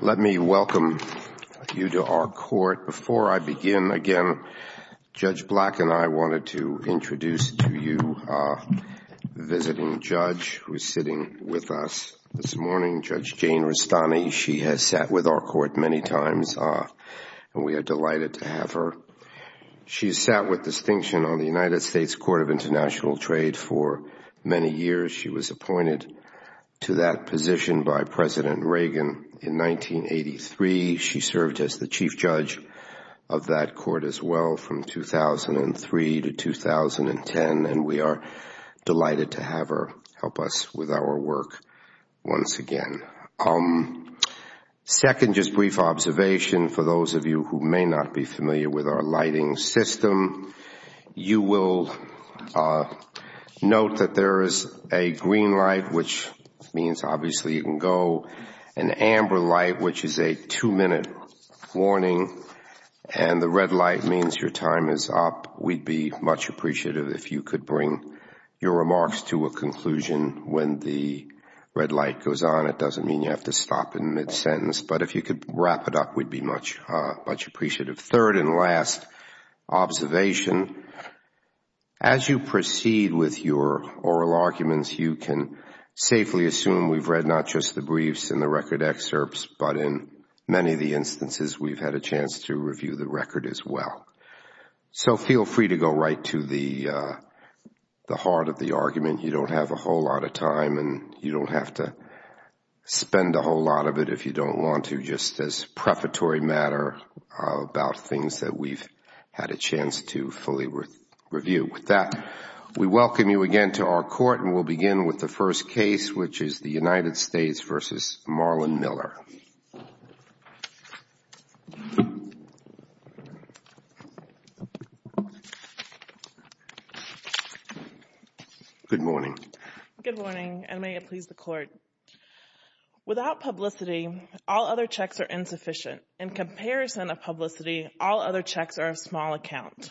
Let me welcome you to our court. Before I begin, again, Judge Black and I wanted to introduce to you the visiting judge who is sitting with us this morning, Judge Jane Rastani. She has sat with our court many times, and we are delighted to have her. She sat with the United States Court of International Trade for many years. She was appointed to that position by President Reagan in 1983. She served as the chief judge of that court as well from 2003 to 2010, and we are delighted to have her help us with our work once again. Second, just brief observation for those of you who may not be familiar with our lighting system. You will note that there is a green light, which means, obviously, you can go, an amber light, which is a two-minute warning, and the red light means your time is up. We would be much appreciative if you could bring your remarks to a conclusion when the red light goes on. It doesn't mean you have to stop in mid-sentence, but if you could wrap it up, we would be much appreciative. Third and last observation, as you proceed with your oral arguments, you can safely assume we have read not just the briefs and the record excerpts, but in many of the instances, we have had a chance to review the record as well. So feel free to go right to the heart of the argument. You don't have a whole lot of time, and you don't have to spend a whole lot of it if you don't want to, just as prefatory matter about things that we've had a chance to fully review. With that, we welcome you again to our court, and we'll begin with the first case, which is the United States v. Marlon Miller. Good morning, and may it please the Court. Without publicity, all other checks are insufficient. In comparison of publicity, all other checks are of small account.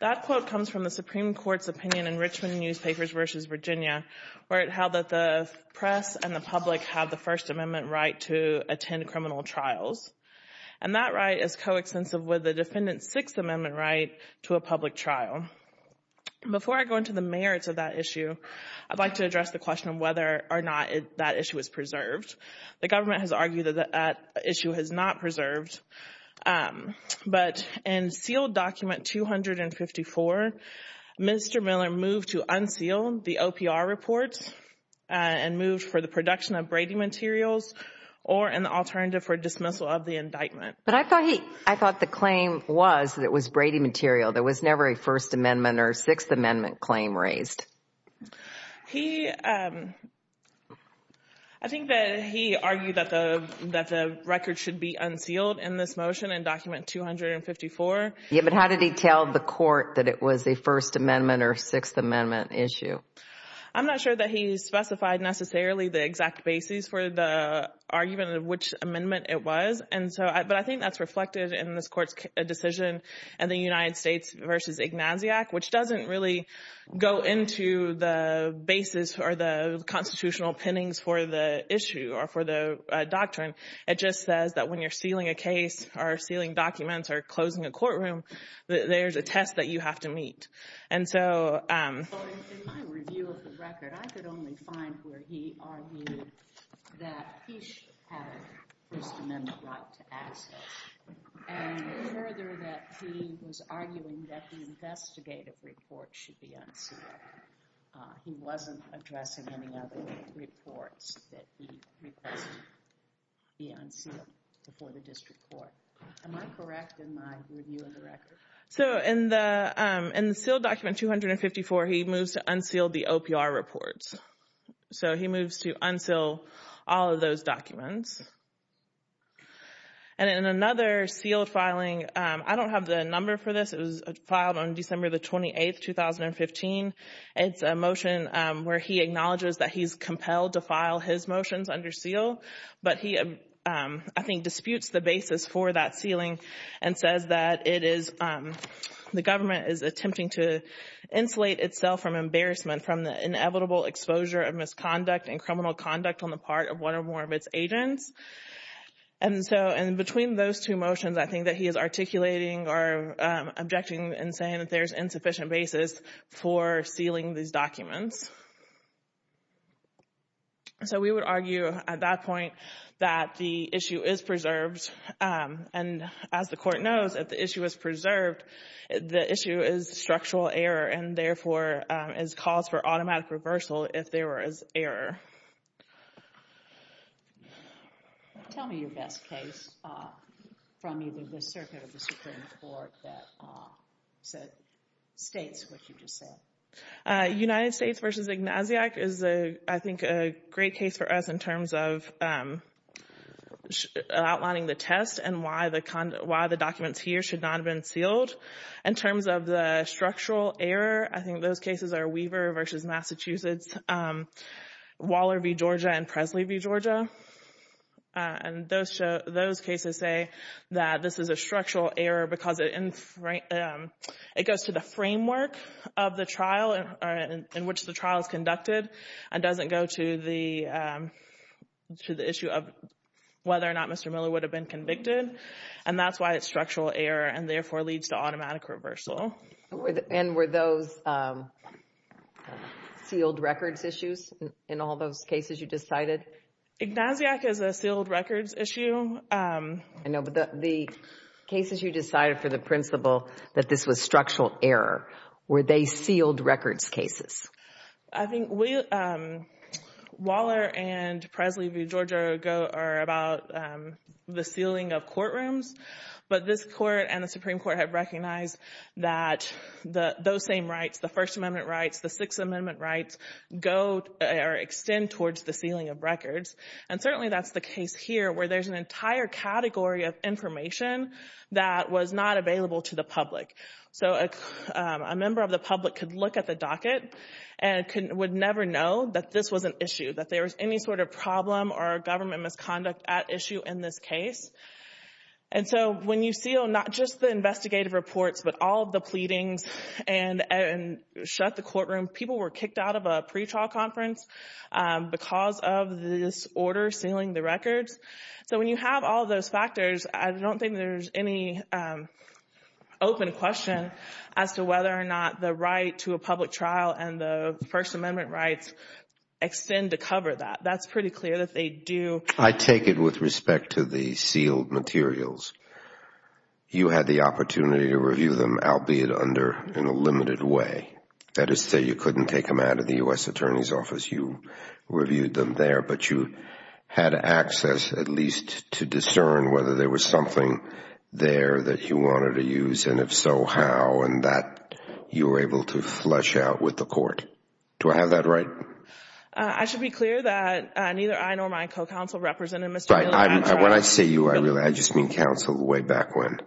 That quote comes from the Supreme Court's opinion in Richmond Newspapers v. Virginia, where it held that the press and the public have the First Amendment right to attend criminal trials. And that right is coextensive with the Defendant's Sixth Amendment right to a public trial. Before I go into the merits of that issue, I'd like to address the question of whether or not that issue is preserved. The government has argued that that issue is not preserved, but in sealed document 254, Mr. Miller moved to unseal the OPR reports and moved for the production of Brady materials or an alternative for dismissal of the indictment. But I thought he, I thought the claim was that it was Brady material. There was never a First Amendment or Sixth Amendment claim raised. He, I think that he argued that the record should be unsealed in this motion in document 254. Yeah, but how did he tell the Court that it was a First Amendment or Sixth Amendment issue? I'm not sure that he specified necessarily the exact basis for the argument of which amendment it was. And so, but I think that's reflected in this Court's decision in the United States v. Ignatiac, which doesn't really go into the basis or the constitutional pinnings for the issue or for the doctrine. It just says that when you're sealing a case or sealing documents or closing a courtroom, that there's a test that you have to meet. And so So, in my review of the record, I could only find where he argued that he should have a First Amendment right to access. And further, that he was arguing that the investigative report should be unsealed. He wasn't addressing any other reports that he requested be unsealed before the District Court. Am I correct in my review of the record? So, in the sealed document 254, he moves to unseal the OPR reports. So, he moves to unseal all of those documents. And in another sealed filing, I don't have the number for this. It was filed on December the 28th, 2015. It's a motion where he acknowledges that he's compelled to file his motions under seal. But he, I think, disputes the basis for that sealing and says that it is, the government is attempting to insulate itself from embarrassment from the inevitable exposure of misconduct and criminal conduct on the part of one or more of its agents. And so, and between those two motions, I think that he is articulating or objecting and saying that there's insufficient basis for sealing these documents. So, we would argue at that point that the issue is preserved. And as the court knows, if the issue is preserved, the issue is structural error and therefore is cause for automatic reversal if there was error. Tell me your best case from either the circuit or the Supreme Court that states what you just said. United States v. Ignaziak is, I think, a great case for us in terms of outlining the test and why the documents here should not have been sealed. In terms of the structural error, I think those cases are Weaver v. Massachusetts, Waller v. Georgia, and Presley v. Georgia. And those cases say that this is a structural error because it goes to the framework of the trial in which the trial is conducted and doesn't go to the issue of whether or not Mr. Miller would have been convicted. And that's why it's structural error and therefore leads to automatic reversal. And were those sealed records issues in all those cases you decided? Ignaziak is a sealed records issue. I know, but the cases you decided for the principle that this was structural error, were they sealed records cases? I think Waller and Presley v. Georgia are about the sealing of courtrooms. But this court and the Supreme Court have recognized that those same rights, the First Amendment rights, the Sixth Amendment rights, go or extend towards the sealing of records. And certainly that's the case here where there's an entire category of information that was not available to the public. So a member of the public could look at the docket and would never know that this was an issue, that there was any sort of problem or government misconduct at issue in this case. And so when you seal not just the investigative reports, but all of the pleadings and shut the courtroom, people were kicked out of the courtroom. So when you have all of those factors, I don't think there's any open question as to whether or not the right to a public trial and the First Amendment rights extend to cover that. That's pretty clear that they do. I take it with respect to the sealed materials, you had the opportunity to review them, albeit under, in a limited way. That is to say, you couldn't take them out of the U.S. Attorney's Office. You reviewed them there, but you had access at least to discern whether there was something there that you wanted to use. And if so, how? And that you were able to flesh out with the court. Do I have that right? I should be clear that neither I nor my co-counsel represented Mr. Miller at trial. When I say you, I just mean counsel way back when.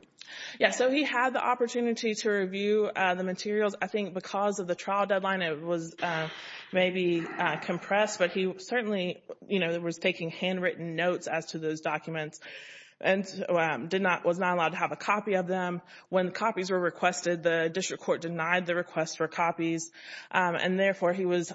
Yes. So he had the opportunity to review the materials. I think because of the trial deadline, it was maybe compressed, but he certainly was taking handwritten notes as to those documents and was not allowed to have a copy of them. When copies were requested, the district court denied the request for copies. And therefore, he was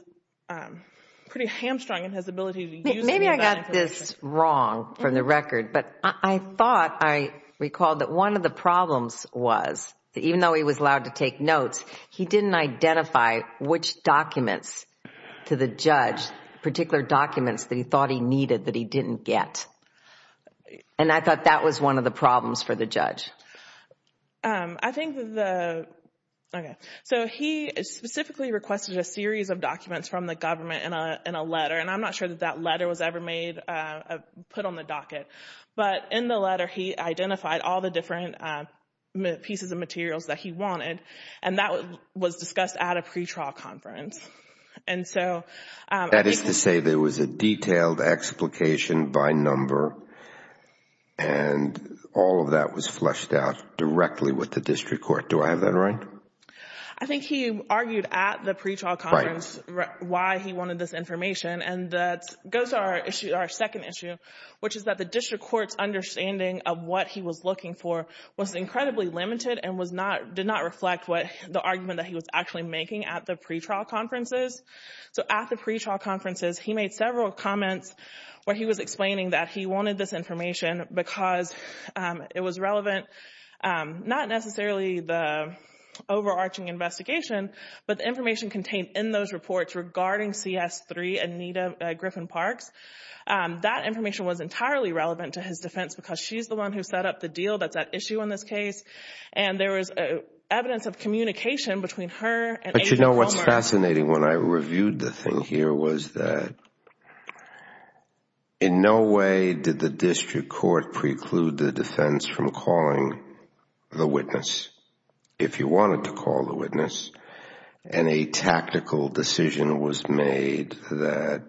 pretty hamstrung in his ability to use them. Maybe I got this wrong from the record, but I thought I recalled that one of the problems was, even though he was allowed to take notes, he didn't identify which documents to the judge, particular documents that he thought he needed that he didn't get. And I thought that was one of the problems for the judge. He specifically requested a series of documents from the government in a letter. And I am not sure that that letter was ever put on the docket. But in the letter, he identified all the different pieces of materials that he wanted, and that was discussed at a pretrial conference. That is to say there was a detailed explication by number, and all of that was fleshed out directly with the district court. Do I have that right? I think he argued at the pretrial conference why he wanted this information. And that goes to our second issue, which is that the district court's understanding of what he was incredibly limited and did not reflect the argument that he was actually making at the pretrial conferences. So at the pretrial conferences, he made several comments where he was explaining that he wanted this information because it was relevant, not necessarily the overarching investigation, but the information contained in those reports regarding CS3 and Nita Griffin-Parks. That information was entirely relevant to his defense because she's the one who set up the deal that's at issue in this case. And there was evidence of communication between her and April Palmer. But you know what's fascinating? When I reviewed the thing here was that in no way did the district court preclude the defense from calling the witness, if you wanted to call the witness. And a tactical decision was made that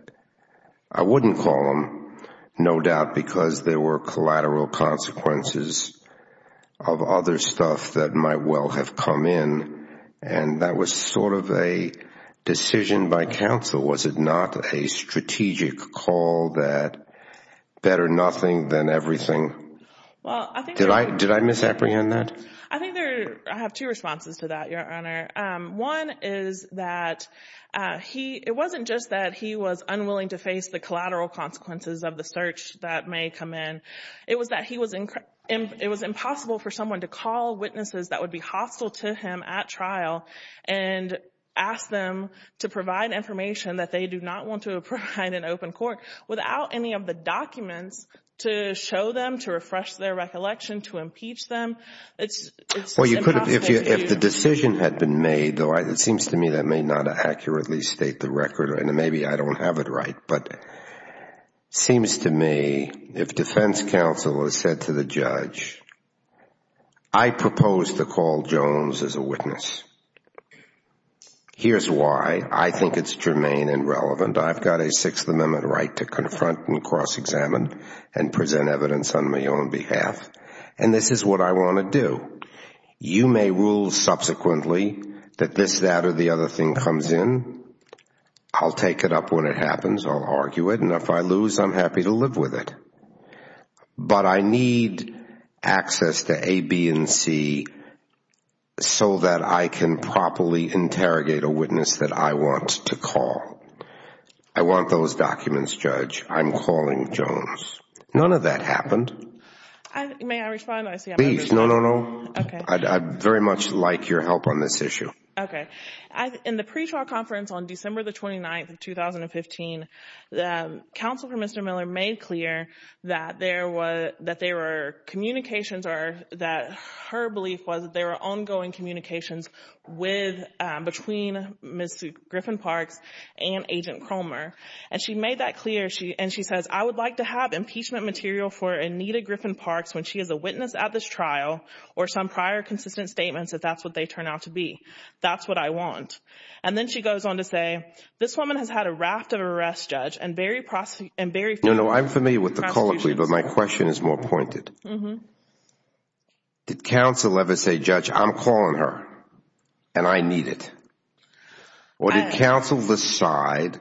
I wouldn't call them, no doubt because there were collateral consequences of other stuff that might well have come in. And that was sort of a decision by counsel. Was it not a strategic call that better nothing than everything? Did I misapprehend that? I think I have two responses to that, Your Honor. One is that it wasn't just that he was unwilling to face the collateral consequences of the search that may come in. It was that it was impossible for someone to call witnesses that would be hostile to him at trial and ask them to provide information that they do not want to provide in open court without any of the documents to show them, to refresh their recollection, to impeach them. Well, if the decision had been made, though, it seems to me that may not accurately state the record, and maybe I don't have it right, but it seems to me if defense counsel has said to the judge, I propose to call Jones as a witness. Here's why. I think it's germane and relevant. I've got a Sixth Amendment right to confront and cross-examine and present evidence on my own behalf. And this is what I want to do. You may rule subsequently that this, that, or the other thing comes in. I'll take it up when it happens. I'll argue it. And if I lose, I'm happy to live with it. But I need access to A, B, and C so that I can properly interrogate a witness that I want to call. I want those documents, Judge. I'm calling Jones. None of that happened. May I respond? I see I'm under attack. Please. No, no, no. Okay. I'd very much like your help on this issue. Okay. In the pretrial conference on December the 29th of 2015, the counsel for Mr. Miller made clear that there were communications or that her belief was that there were ongoing communications between Ms. Griffin-Parks and Agent Cromer. And she made that clear, and she says, I would like to have impeachment material for Anita Griffin-Parks when she is a witness at this trial or some prior consistent statements if that's what they turn out to be. That's what I want. And then she goes on to say, this woman has had a raft of arrests, Judge, and very few prosecutions. No, no. I'm familiar with the call, but my question is more pointed. Did counsel ever say, Judge, I'm calling her and I need it? Or did counsel decide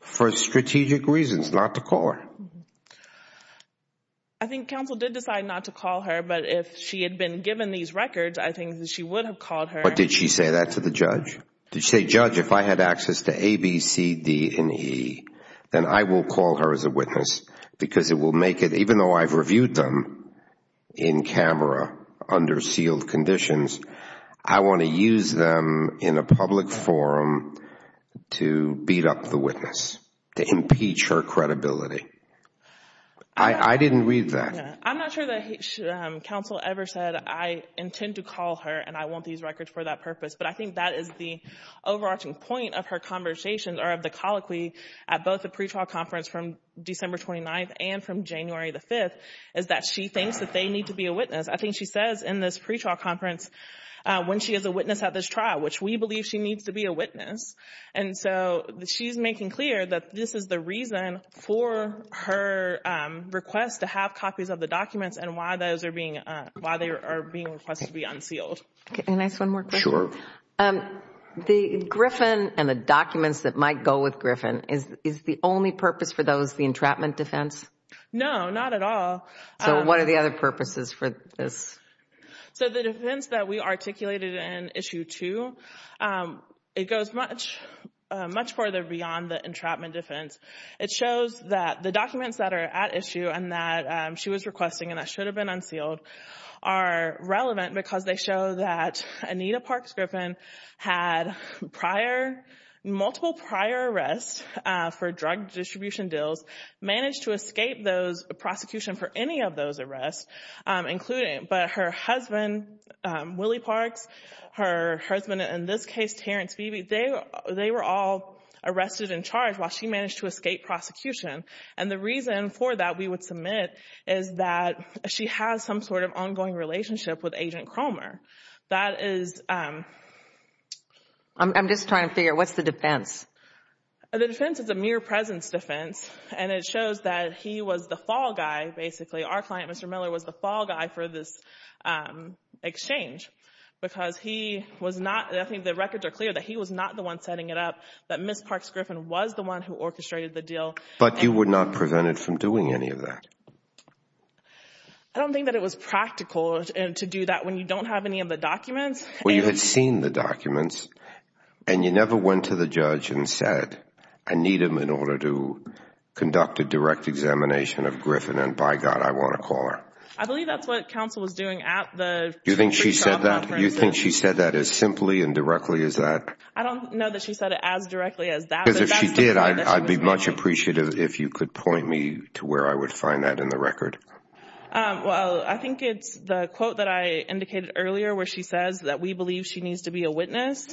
for strategic reasons not to call her? I think counsel did decide not to call her, but if she had been given these records, I think that she would have called her. Did she say that to the judge? Did she say, Judge, if I had access to A, B, C, D, and E, then I will call her as a witness because it will make it, even though I've reviewed them in camera under sealed conditions, I want to use them in a public forum to beat up the witness, to impeach her credibility. I didn't read that. I'm not sure that counsel ever said, I intend to call her and I want these records for that purpose. But I think that is the overarching point of her conversation or of the colloquy at both the pretrial conference from December 29th and from January the 5th, is that she thinks that they need to be a witness. I think she says in this pretrial conference, when she is a witness at this trial, which we believe she needs to be a witness. And so she's making clear that this is the reason for her request to have copies of the documents and why they are being requested to be unsealed. Can I ask one more question? Sure. The Griffin and the documents that might go with Griffin, is the only purpose for those the entrapment defense? No, not at all. So what are the other purposes for this? So the defense that we articulated in issue two, it goes much further beyond the entrapment defense. It shows that the documents that are at issue and that she was requesting and that should have been unsealed are relevant because they show that Anita Parks Griffin had prior, multiple prior arrests for drug distribution deals, managed to escape those prosecution for any of those arrests, including, but her husband, Willie Parks, her husband in this case, they were all arrested and charged while she managed to escape prosecution. And the reason for that, we would submit, is that she has some sort of ongoing relationship with Agent Cromer. That is... I'm just trying to figure out, what's the defense? The defense is a mere presence defense, and it shows that he was the fall guy, basically. Our client, Mr. Miller, was the fall guy for this exchange because he was not, I think the records are clear that he was not the one setting it up, that Ms. Parks Griffin was the one who orchestrated the deal. But you would not prevent it from doing any of that? I don't think that it was practical to do that when you don't have any of the documents. Well, you had seen the documents and you never went to the judge and said, I need him in order to conduct a direct examination of Griffin, and by God, I want to call her. I believe that's what counsel was doing at the... You think she said that? You think she said that as simply and directly as that? I don't know that she said it as directly as that. Because if she did, I'd be much appreciative if you could point me to where I would find that in the record. Well, I think it's the quote that I indicated earlier, where she says that we believe she needs to be a witness,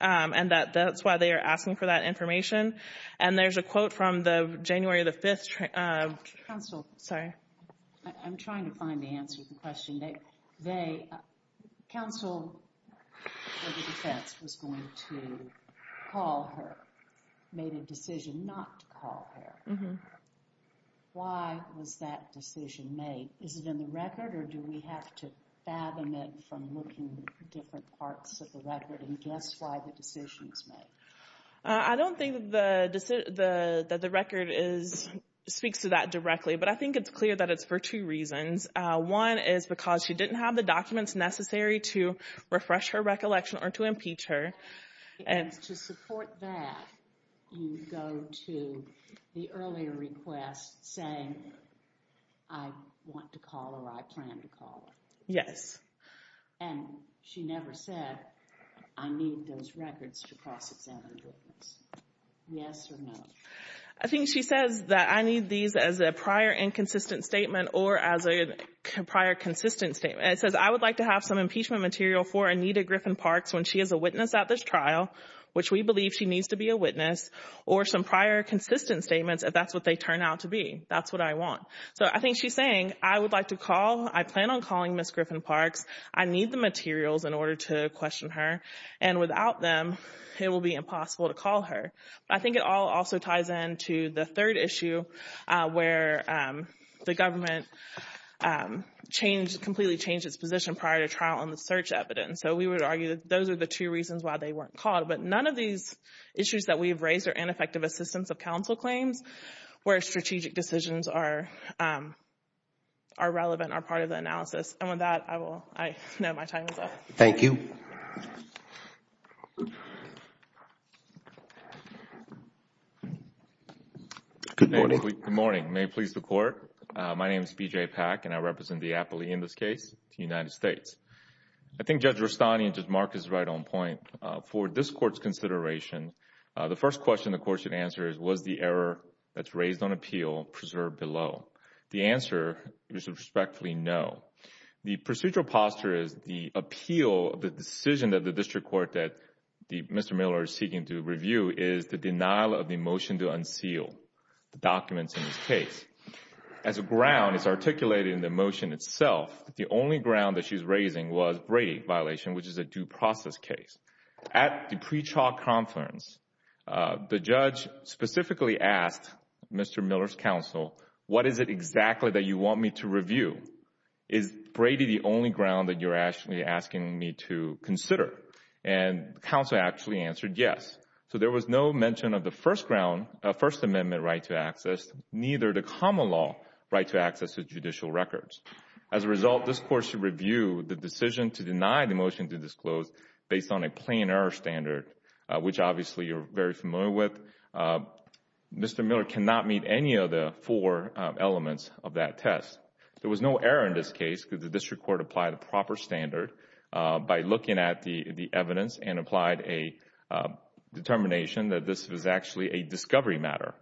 and that that's why they are asking for that information. And there's a quote from the January the 5th... Counsel. Sorry. I'm trying to find the answer to the question. They... Counsel for the defense was going to call her, made a decision not to call her. Why was that decision made? Is it in the record or do we have to fathom it from looking at different parts of the record? And guess why the decision was made? I don't think that the record speaks to that directly, but I think it's clear that it's for two reasons. One is because she didn't have the documents necessary to refresh her recollection or to impeach her. And to support that, you go to the earlier request saying, I want to call her, I plan to call her. Yes. And she never said, I need those records to cross-examine the witness. Yes or no? I think she says that I need these as a prior inconsistent statement or as a prior consistent statement. It says, I would like to have some impeachment material for Anita Griffin-Parks when she is a witness at this trial, which we believe she needs to be a witness, or some prior consistent statements if that's what they turn out to be. That's what I want. So I think she's saying, I would like to call. I plan on calling Ms. Griffin-Parks. I need the materials in order to question her. And without them, it will be impossible to call her. I think it all also ties into the third issue where the government changed, completely changed its position prior to trial on the search evidence. So we would argue that those are the two reasons why they weren't called. But none of these issues that we've raised are ineffective assistance of counsel claims where strategic decisions are relevant, are part of the analysis. And with that, I will, I know my time is up. Thank you. Good morning. Good morning. May it please the Court. My name is B.J. Pack, and I represent the appellee in this case, the United States. I think Judge Rustani and Judge Marcus is right on point. For this Court's consideration, the first question the Court should answer is, was the error that's raised on appeal preserved below? The answer is a respectfully no. The procedural posture is the appeal, the decision of the district court that Mr. Miller is seeking to review is the denial of the motion to unseal the documents in this case. As a ground, it's articulated in the motion itself, the only ground that she's raising was Brady violation, which is a due process case. At the pre-trial conference, the judge specifically asked Mr. Miller's counsel, what is it exactly that you want me to review? Is Brady the only ground that you're actually asking me to consider? And counsel actually answered yes. So there was no mention of the First Amendment right to access, neither the common law right to access to judicial records. As a result, this Court should review the decision to deny the motion to disclose based on a plain error standard, which obviously you're very familiar with. Mr. Miller cannot meet any of the four elements of that test. There was no error in this case because the district court applied the proper standard by looking at the evidence and applied a determination that this was actually a discovery matter.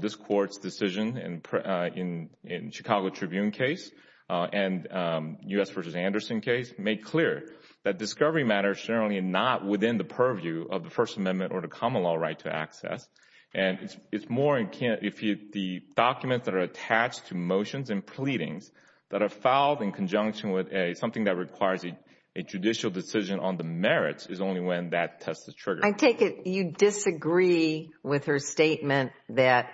This Court's decision in Chicago Tribune case and U.S. v. Anderson case made clear that discovery matters generally not within the purview of the First Amendment or the common law right to that are filed in conjunction with something that requires a judicial decision on the merits is only when that test is triggered. I take it you disagree with her statement that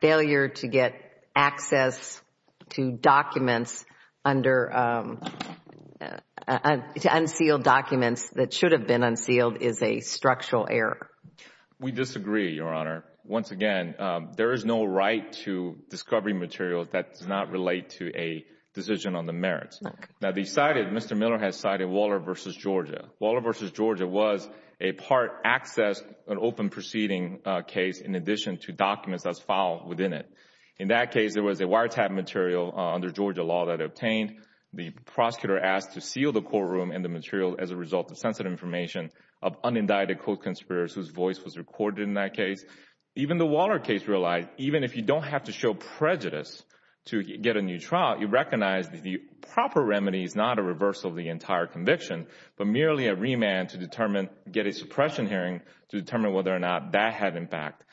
failure to get access to documents that should have been unsealed is a structural error? We disagree, Your Honor. Once again, there is no right to discovery material that does not relate to a decision on the merits. Mr. Miller has cited Waller v. Georgia. Waller v. Georgia was a part access, an open proceeding case, in addition to documents that's filed within it. In that case, there was a wiretap material under Georgia law that obtained. The prosecutor asked to seal the courtroom and the material as a result of sensitive information of unindicted co-conspirators whose voice was recorded in that case. Even the Waller case realized even if you don't have to show prejudice to get a new trial, you recognize that the proper remedy is not a reversal of the entire conviction, but merely a remand to get a suppression hearing to determine whether or not that had impact.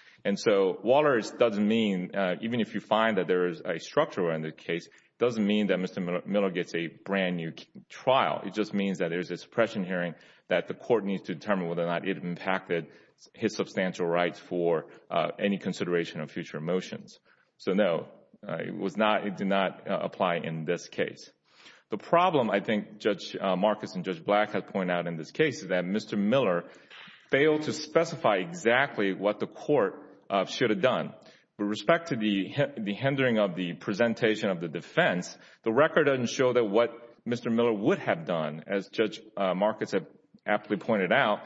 Waller doesn't mean, even if you find that there is a structural error in the case, it doesn't mean that Mr. Miller gets a brand new trial. It just means that there's a suppression hearing that the court needs to determine whether or not it impacted his substantial rights for any consideration of future motions. So, no, it did not apply in this case. The problem, I think, Judge Marcus and Judge Black have pointed out in this case is that Mr. Miller failed to specify exactly what the court should have done. With respect to the hindering of the presentation of the defense, the record doesn't show that what Mr. Miller would have done as Judge Marcus aptly pointed out.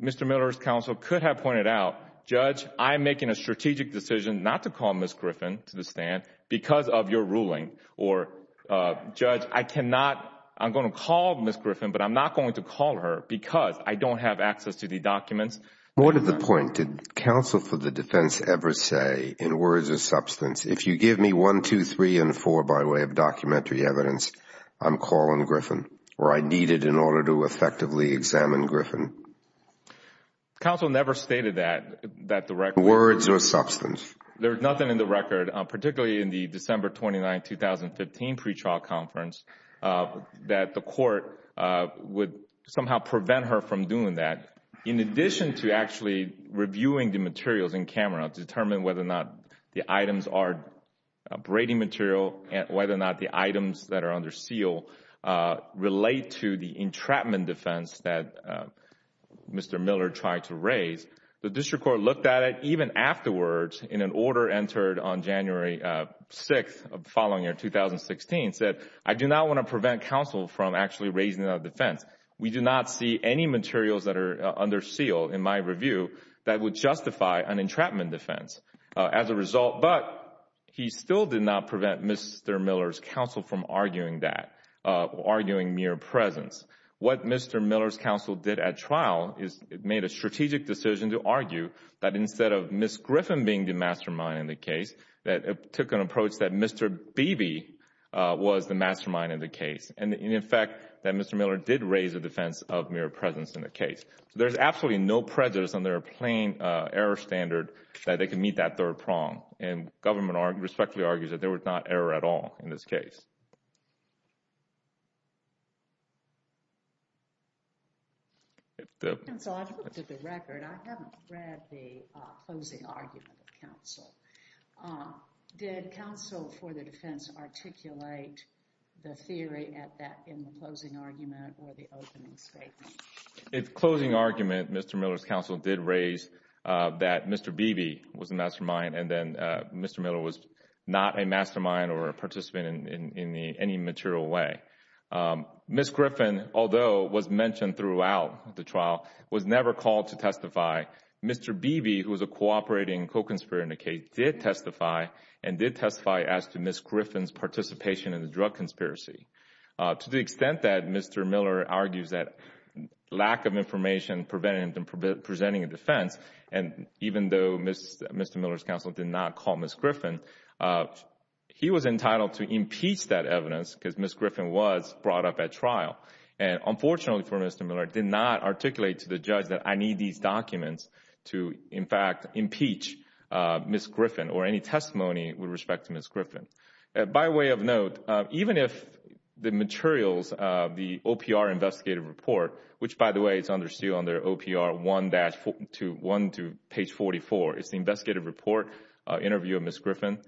Mr. Miller's counsel could have pointed out, Judge, I am making a strategic decision not to call Ms. Griffin to the stand because of your ruling or, Judge, I cannot, I am going to call Ms. Griffin, but I am not going to call her because I don't have access to the documents. What is the point? Did counsel for the defense ever say in words of substance, if you give me one, two, three, and four by way of documentary evidence, I am calling Griffin or I need it in order to effectively examine Griffin? Judge Marcus Counsel never stated that, that the record words of substance. There is nothing in the record, particularly in the December 29, 2015 pretrial conference, that the court would somehow prevent her from doing that, in addition to actually reviewing the materials in camera to determine whether or not the items are under seal relate to the entrapment defense that Mr. Miller tried to raise. The district court looked at it, even afterwards, in an order entered on January 6, following in 2016, said I do not want to prevent counsel from actually raising that defense. We do not see any materials that are under seal, in my review, that would justify an entrapment defense. As a result, but he still did not prevent Mr. Miller's counsel from arguing that, arguing mere presence. What Mr. Miller's counsel did at trial is made a strategic decision to argue that instead of Ms. Griffin being the mastermind in the case, that it took an approach that Mr. Beebe was the mastermind in the case. In effect, Mr. Miller did raise the defense of mere presence in the case. There is absolutely no prejudice on their plain error standard that they can meet that third prong, and government respectfully argues that there was not error at all in this case. The record, I haven't read the closing argument of counsel. Did counsel for the defense articulate the theory at that in the closing argument or the opening statement? Its closing argument, Mr. Miller's counsel did raise that Mr. Beebe was the mastermind, and then Mr. Miller was not a mastermind or a participant in any material way. Ms. Griffin, although was mentioned throughout the trial, was never called to testify. Mr. Beebe, who was a cooperating co-conspirator in the case, did testify, and did testify as to Ms. Griffin's participation in the drug conspiracy. To the extent that Mr. Miller argues that lack of information prevented him from presenting a defense, and even though Mr. Miller's counsel did not call Ms. Griffin, he was entitled to impeach that evidence because Ms. Griffin was brought up at trial. Unfortunately for Mr. Miller, he did not articulate to the judge that I need these documents to, in fact, impeach Ms. Griffin. By way of note, even if the materials, the OPR investigative report, which by the way, is under seal under OPR 1 to page 44, is the investigative report, interview of Ms. Griffin.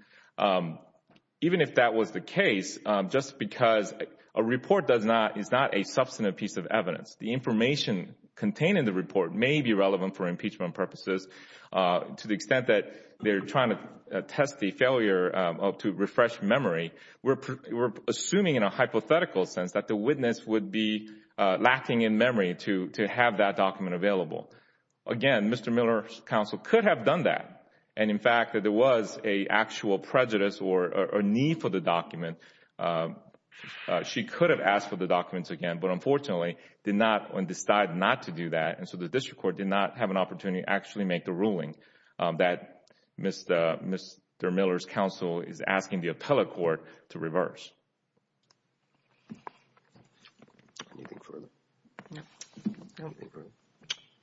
Even if that was the case, just because a report is not a substantive piece of evidence, the information contained in the report may be relevant for impeachment purposes to the extent that they're trying to test the failure to refresh memory. We're assuming, in a hypothetical sense, that the witness would be lacking in memory to have that document available. Again, Mr. Miller's counsel could have done that, and in fact, there was an actual prejudice or need for the document. She could have asked for the documents again, but unfortunately, did not decide not to do that, and so the district court did not have an opportunity actually make the ruling that Mr. Miller's counsel is asking the appellate court to reverse.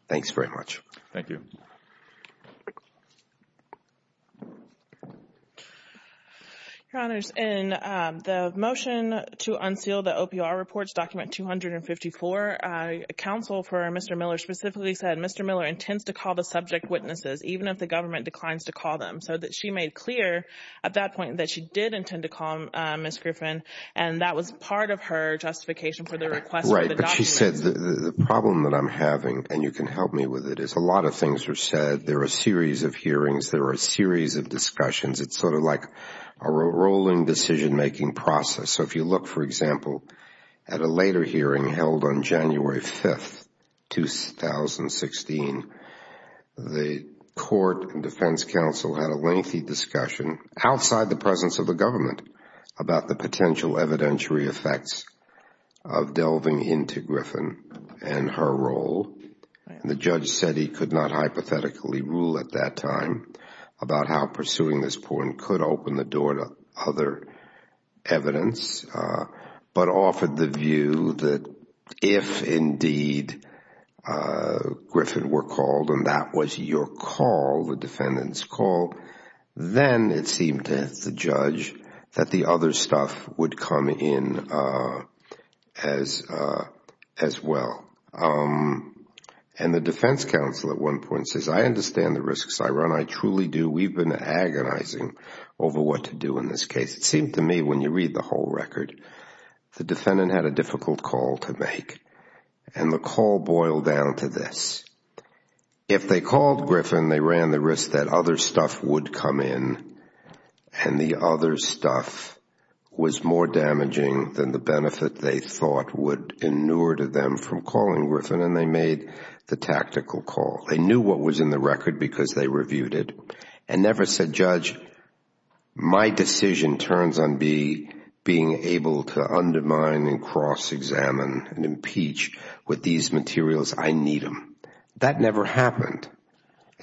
Thanks very much. Thank you. Your Honors, in the motion to unseal the OPR reports, document 254, counsel for Mr. Miller specifically said, Mr. Miller intends to call the subject witnesses, even if the government declines to call them, so that she made clear at that point that she did intend to call Ms. Griffin, and that was part of her justification for the request for the document. Right, but she said the problem that I'm having, and you can help me with it, is a lot of things were said. There were a series of hearings. There were a series of discussions. It's sort of like a rolling decision-making process. So if you look, for example, at a later hearing held on January 5th, 2016, the court and defense counsel had a lengthy discussion outside the presence of the government about the potential evidentiary effects of delving into Griffin and her role. The judge said he could not hypothetically rule at that time about how pursuing this point could open the door to other evidence, but offered the view that if indeed Griffin were called and that was your call, the defendant's call, then it seemed to the judge that the other stuff would come in as well. And the defense counsel at one point says, I understand the risks, I run, I truly do. We've been agonizing over what to do in this case. It seemed to me when you read the whole record, the defendant had a difficult call to make, and the call boiled down to this. If they called Griffin, they ran the risk that other stuff would come in, and the other stuff was more damaging than the benefit they thought would inure to them from calling Griffin, and they made the tactical call. They knew what was in the record because they reviewed it, and never said, Judge, my decision turns on being able to undermine and cross-examine and impeach with these materials. I need them. That never happened.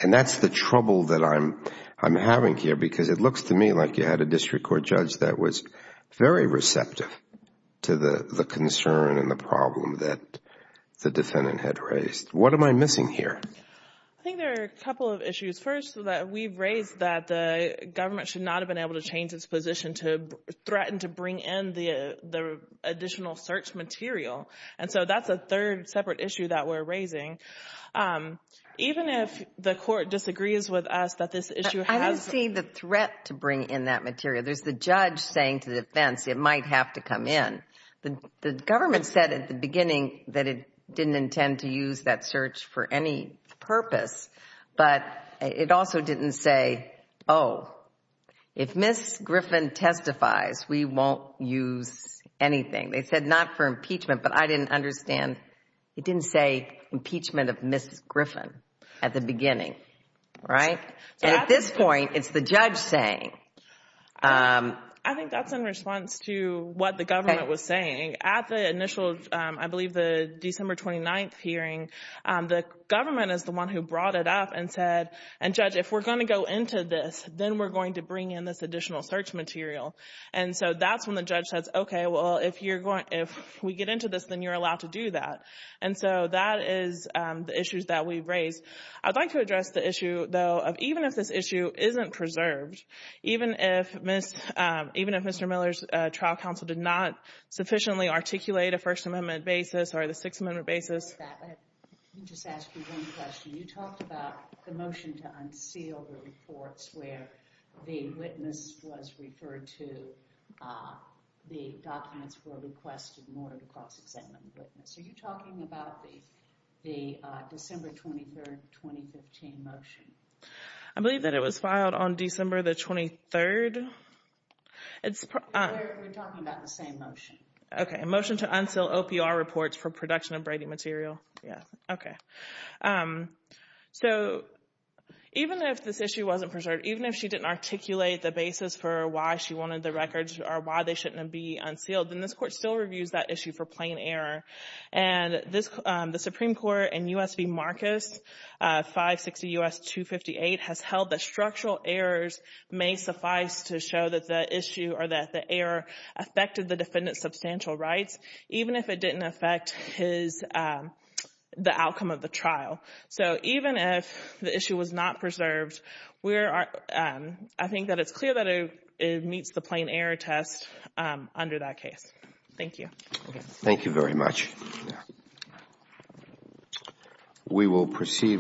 And that's the trouble that I'm having here because it looks to me like you had a district court judge that was very receptive to the concern and the problem that the defendant had raised. What am I missing here? I think there are a couple of issues. First, that we've raised that the government should not have been able to change its position to threaten to bring in the additional search material. And so that's a third separate issue that we're raising. Even if the court disagrees with us that this issue has... I don't see the threat to bring in that material. There's the judge saying to the defense, it might have to come in. The government said at the beginning that it didn't intend to use that search for any purpose, but it also didn't say, oh, if Ms. Griffin testifies, we won't use anything. They said not for impeachment, but I didn't understand. It didn't say impeachment of Ms. Griffin at the beginning. And at this point, it's the judge saying... I think that's in response to what the government was saying. At the initial, I believe the December 29th hearing, the government is the one who brought it up and said, and judge, if we're going to go into this, then we're going to bring in this additional search material. And so that's when the judge says, okay, well, if we get into this, then you're allowed to do that. And so that is the issues that we've raised. I'd like to address the even if this issue isn't preserved, even if Mr. Miller's trial counsel did not sufficiently articulate a First Amendment basis or the Sixth Amendment basis. Let me just ask you one question. You talked about the motion to unseal the reports where the witness was referred to, the documents were requested in order to cross-examine the witness. Are you talking about the December 23rd, 2015 motion? I believe that it was filed on December the 23rd. It's... We're talking about the same motion. Okay. A motion to unseal OPR reports for production of Brady material. Yeah. Okay. So even if this issue wasn't preserved, even if she didn't articulate the basis for why she wanted the records or why they shouldn't be unsealed, then this court still reviews that issue for her. And the Supreme Court in U.S. v. Marcus, 560 U.S. 258, has held that structural errors may suffice to show that the issue or that the error affected the defendant's substantial rights, even if it didn't affect his, the outcome of the trial. So even if the issue was not preserved, we're, I think that it's clear that it meets the plain error test under that case. Thank you. Thank you very much. We will proceed.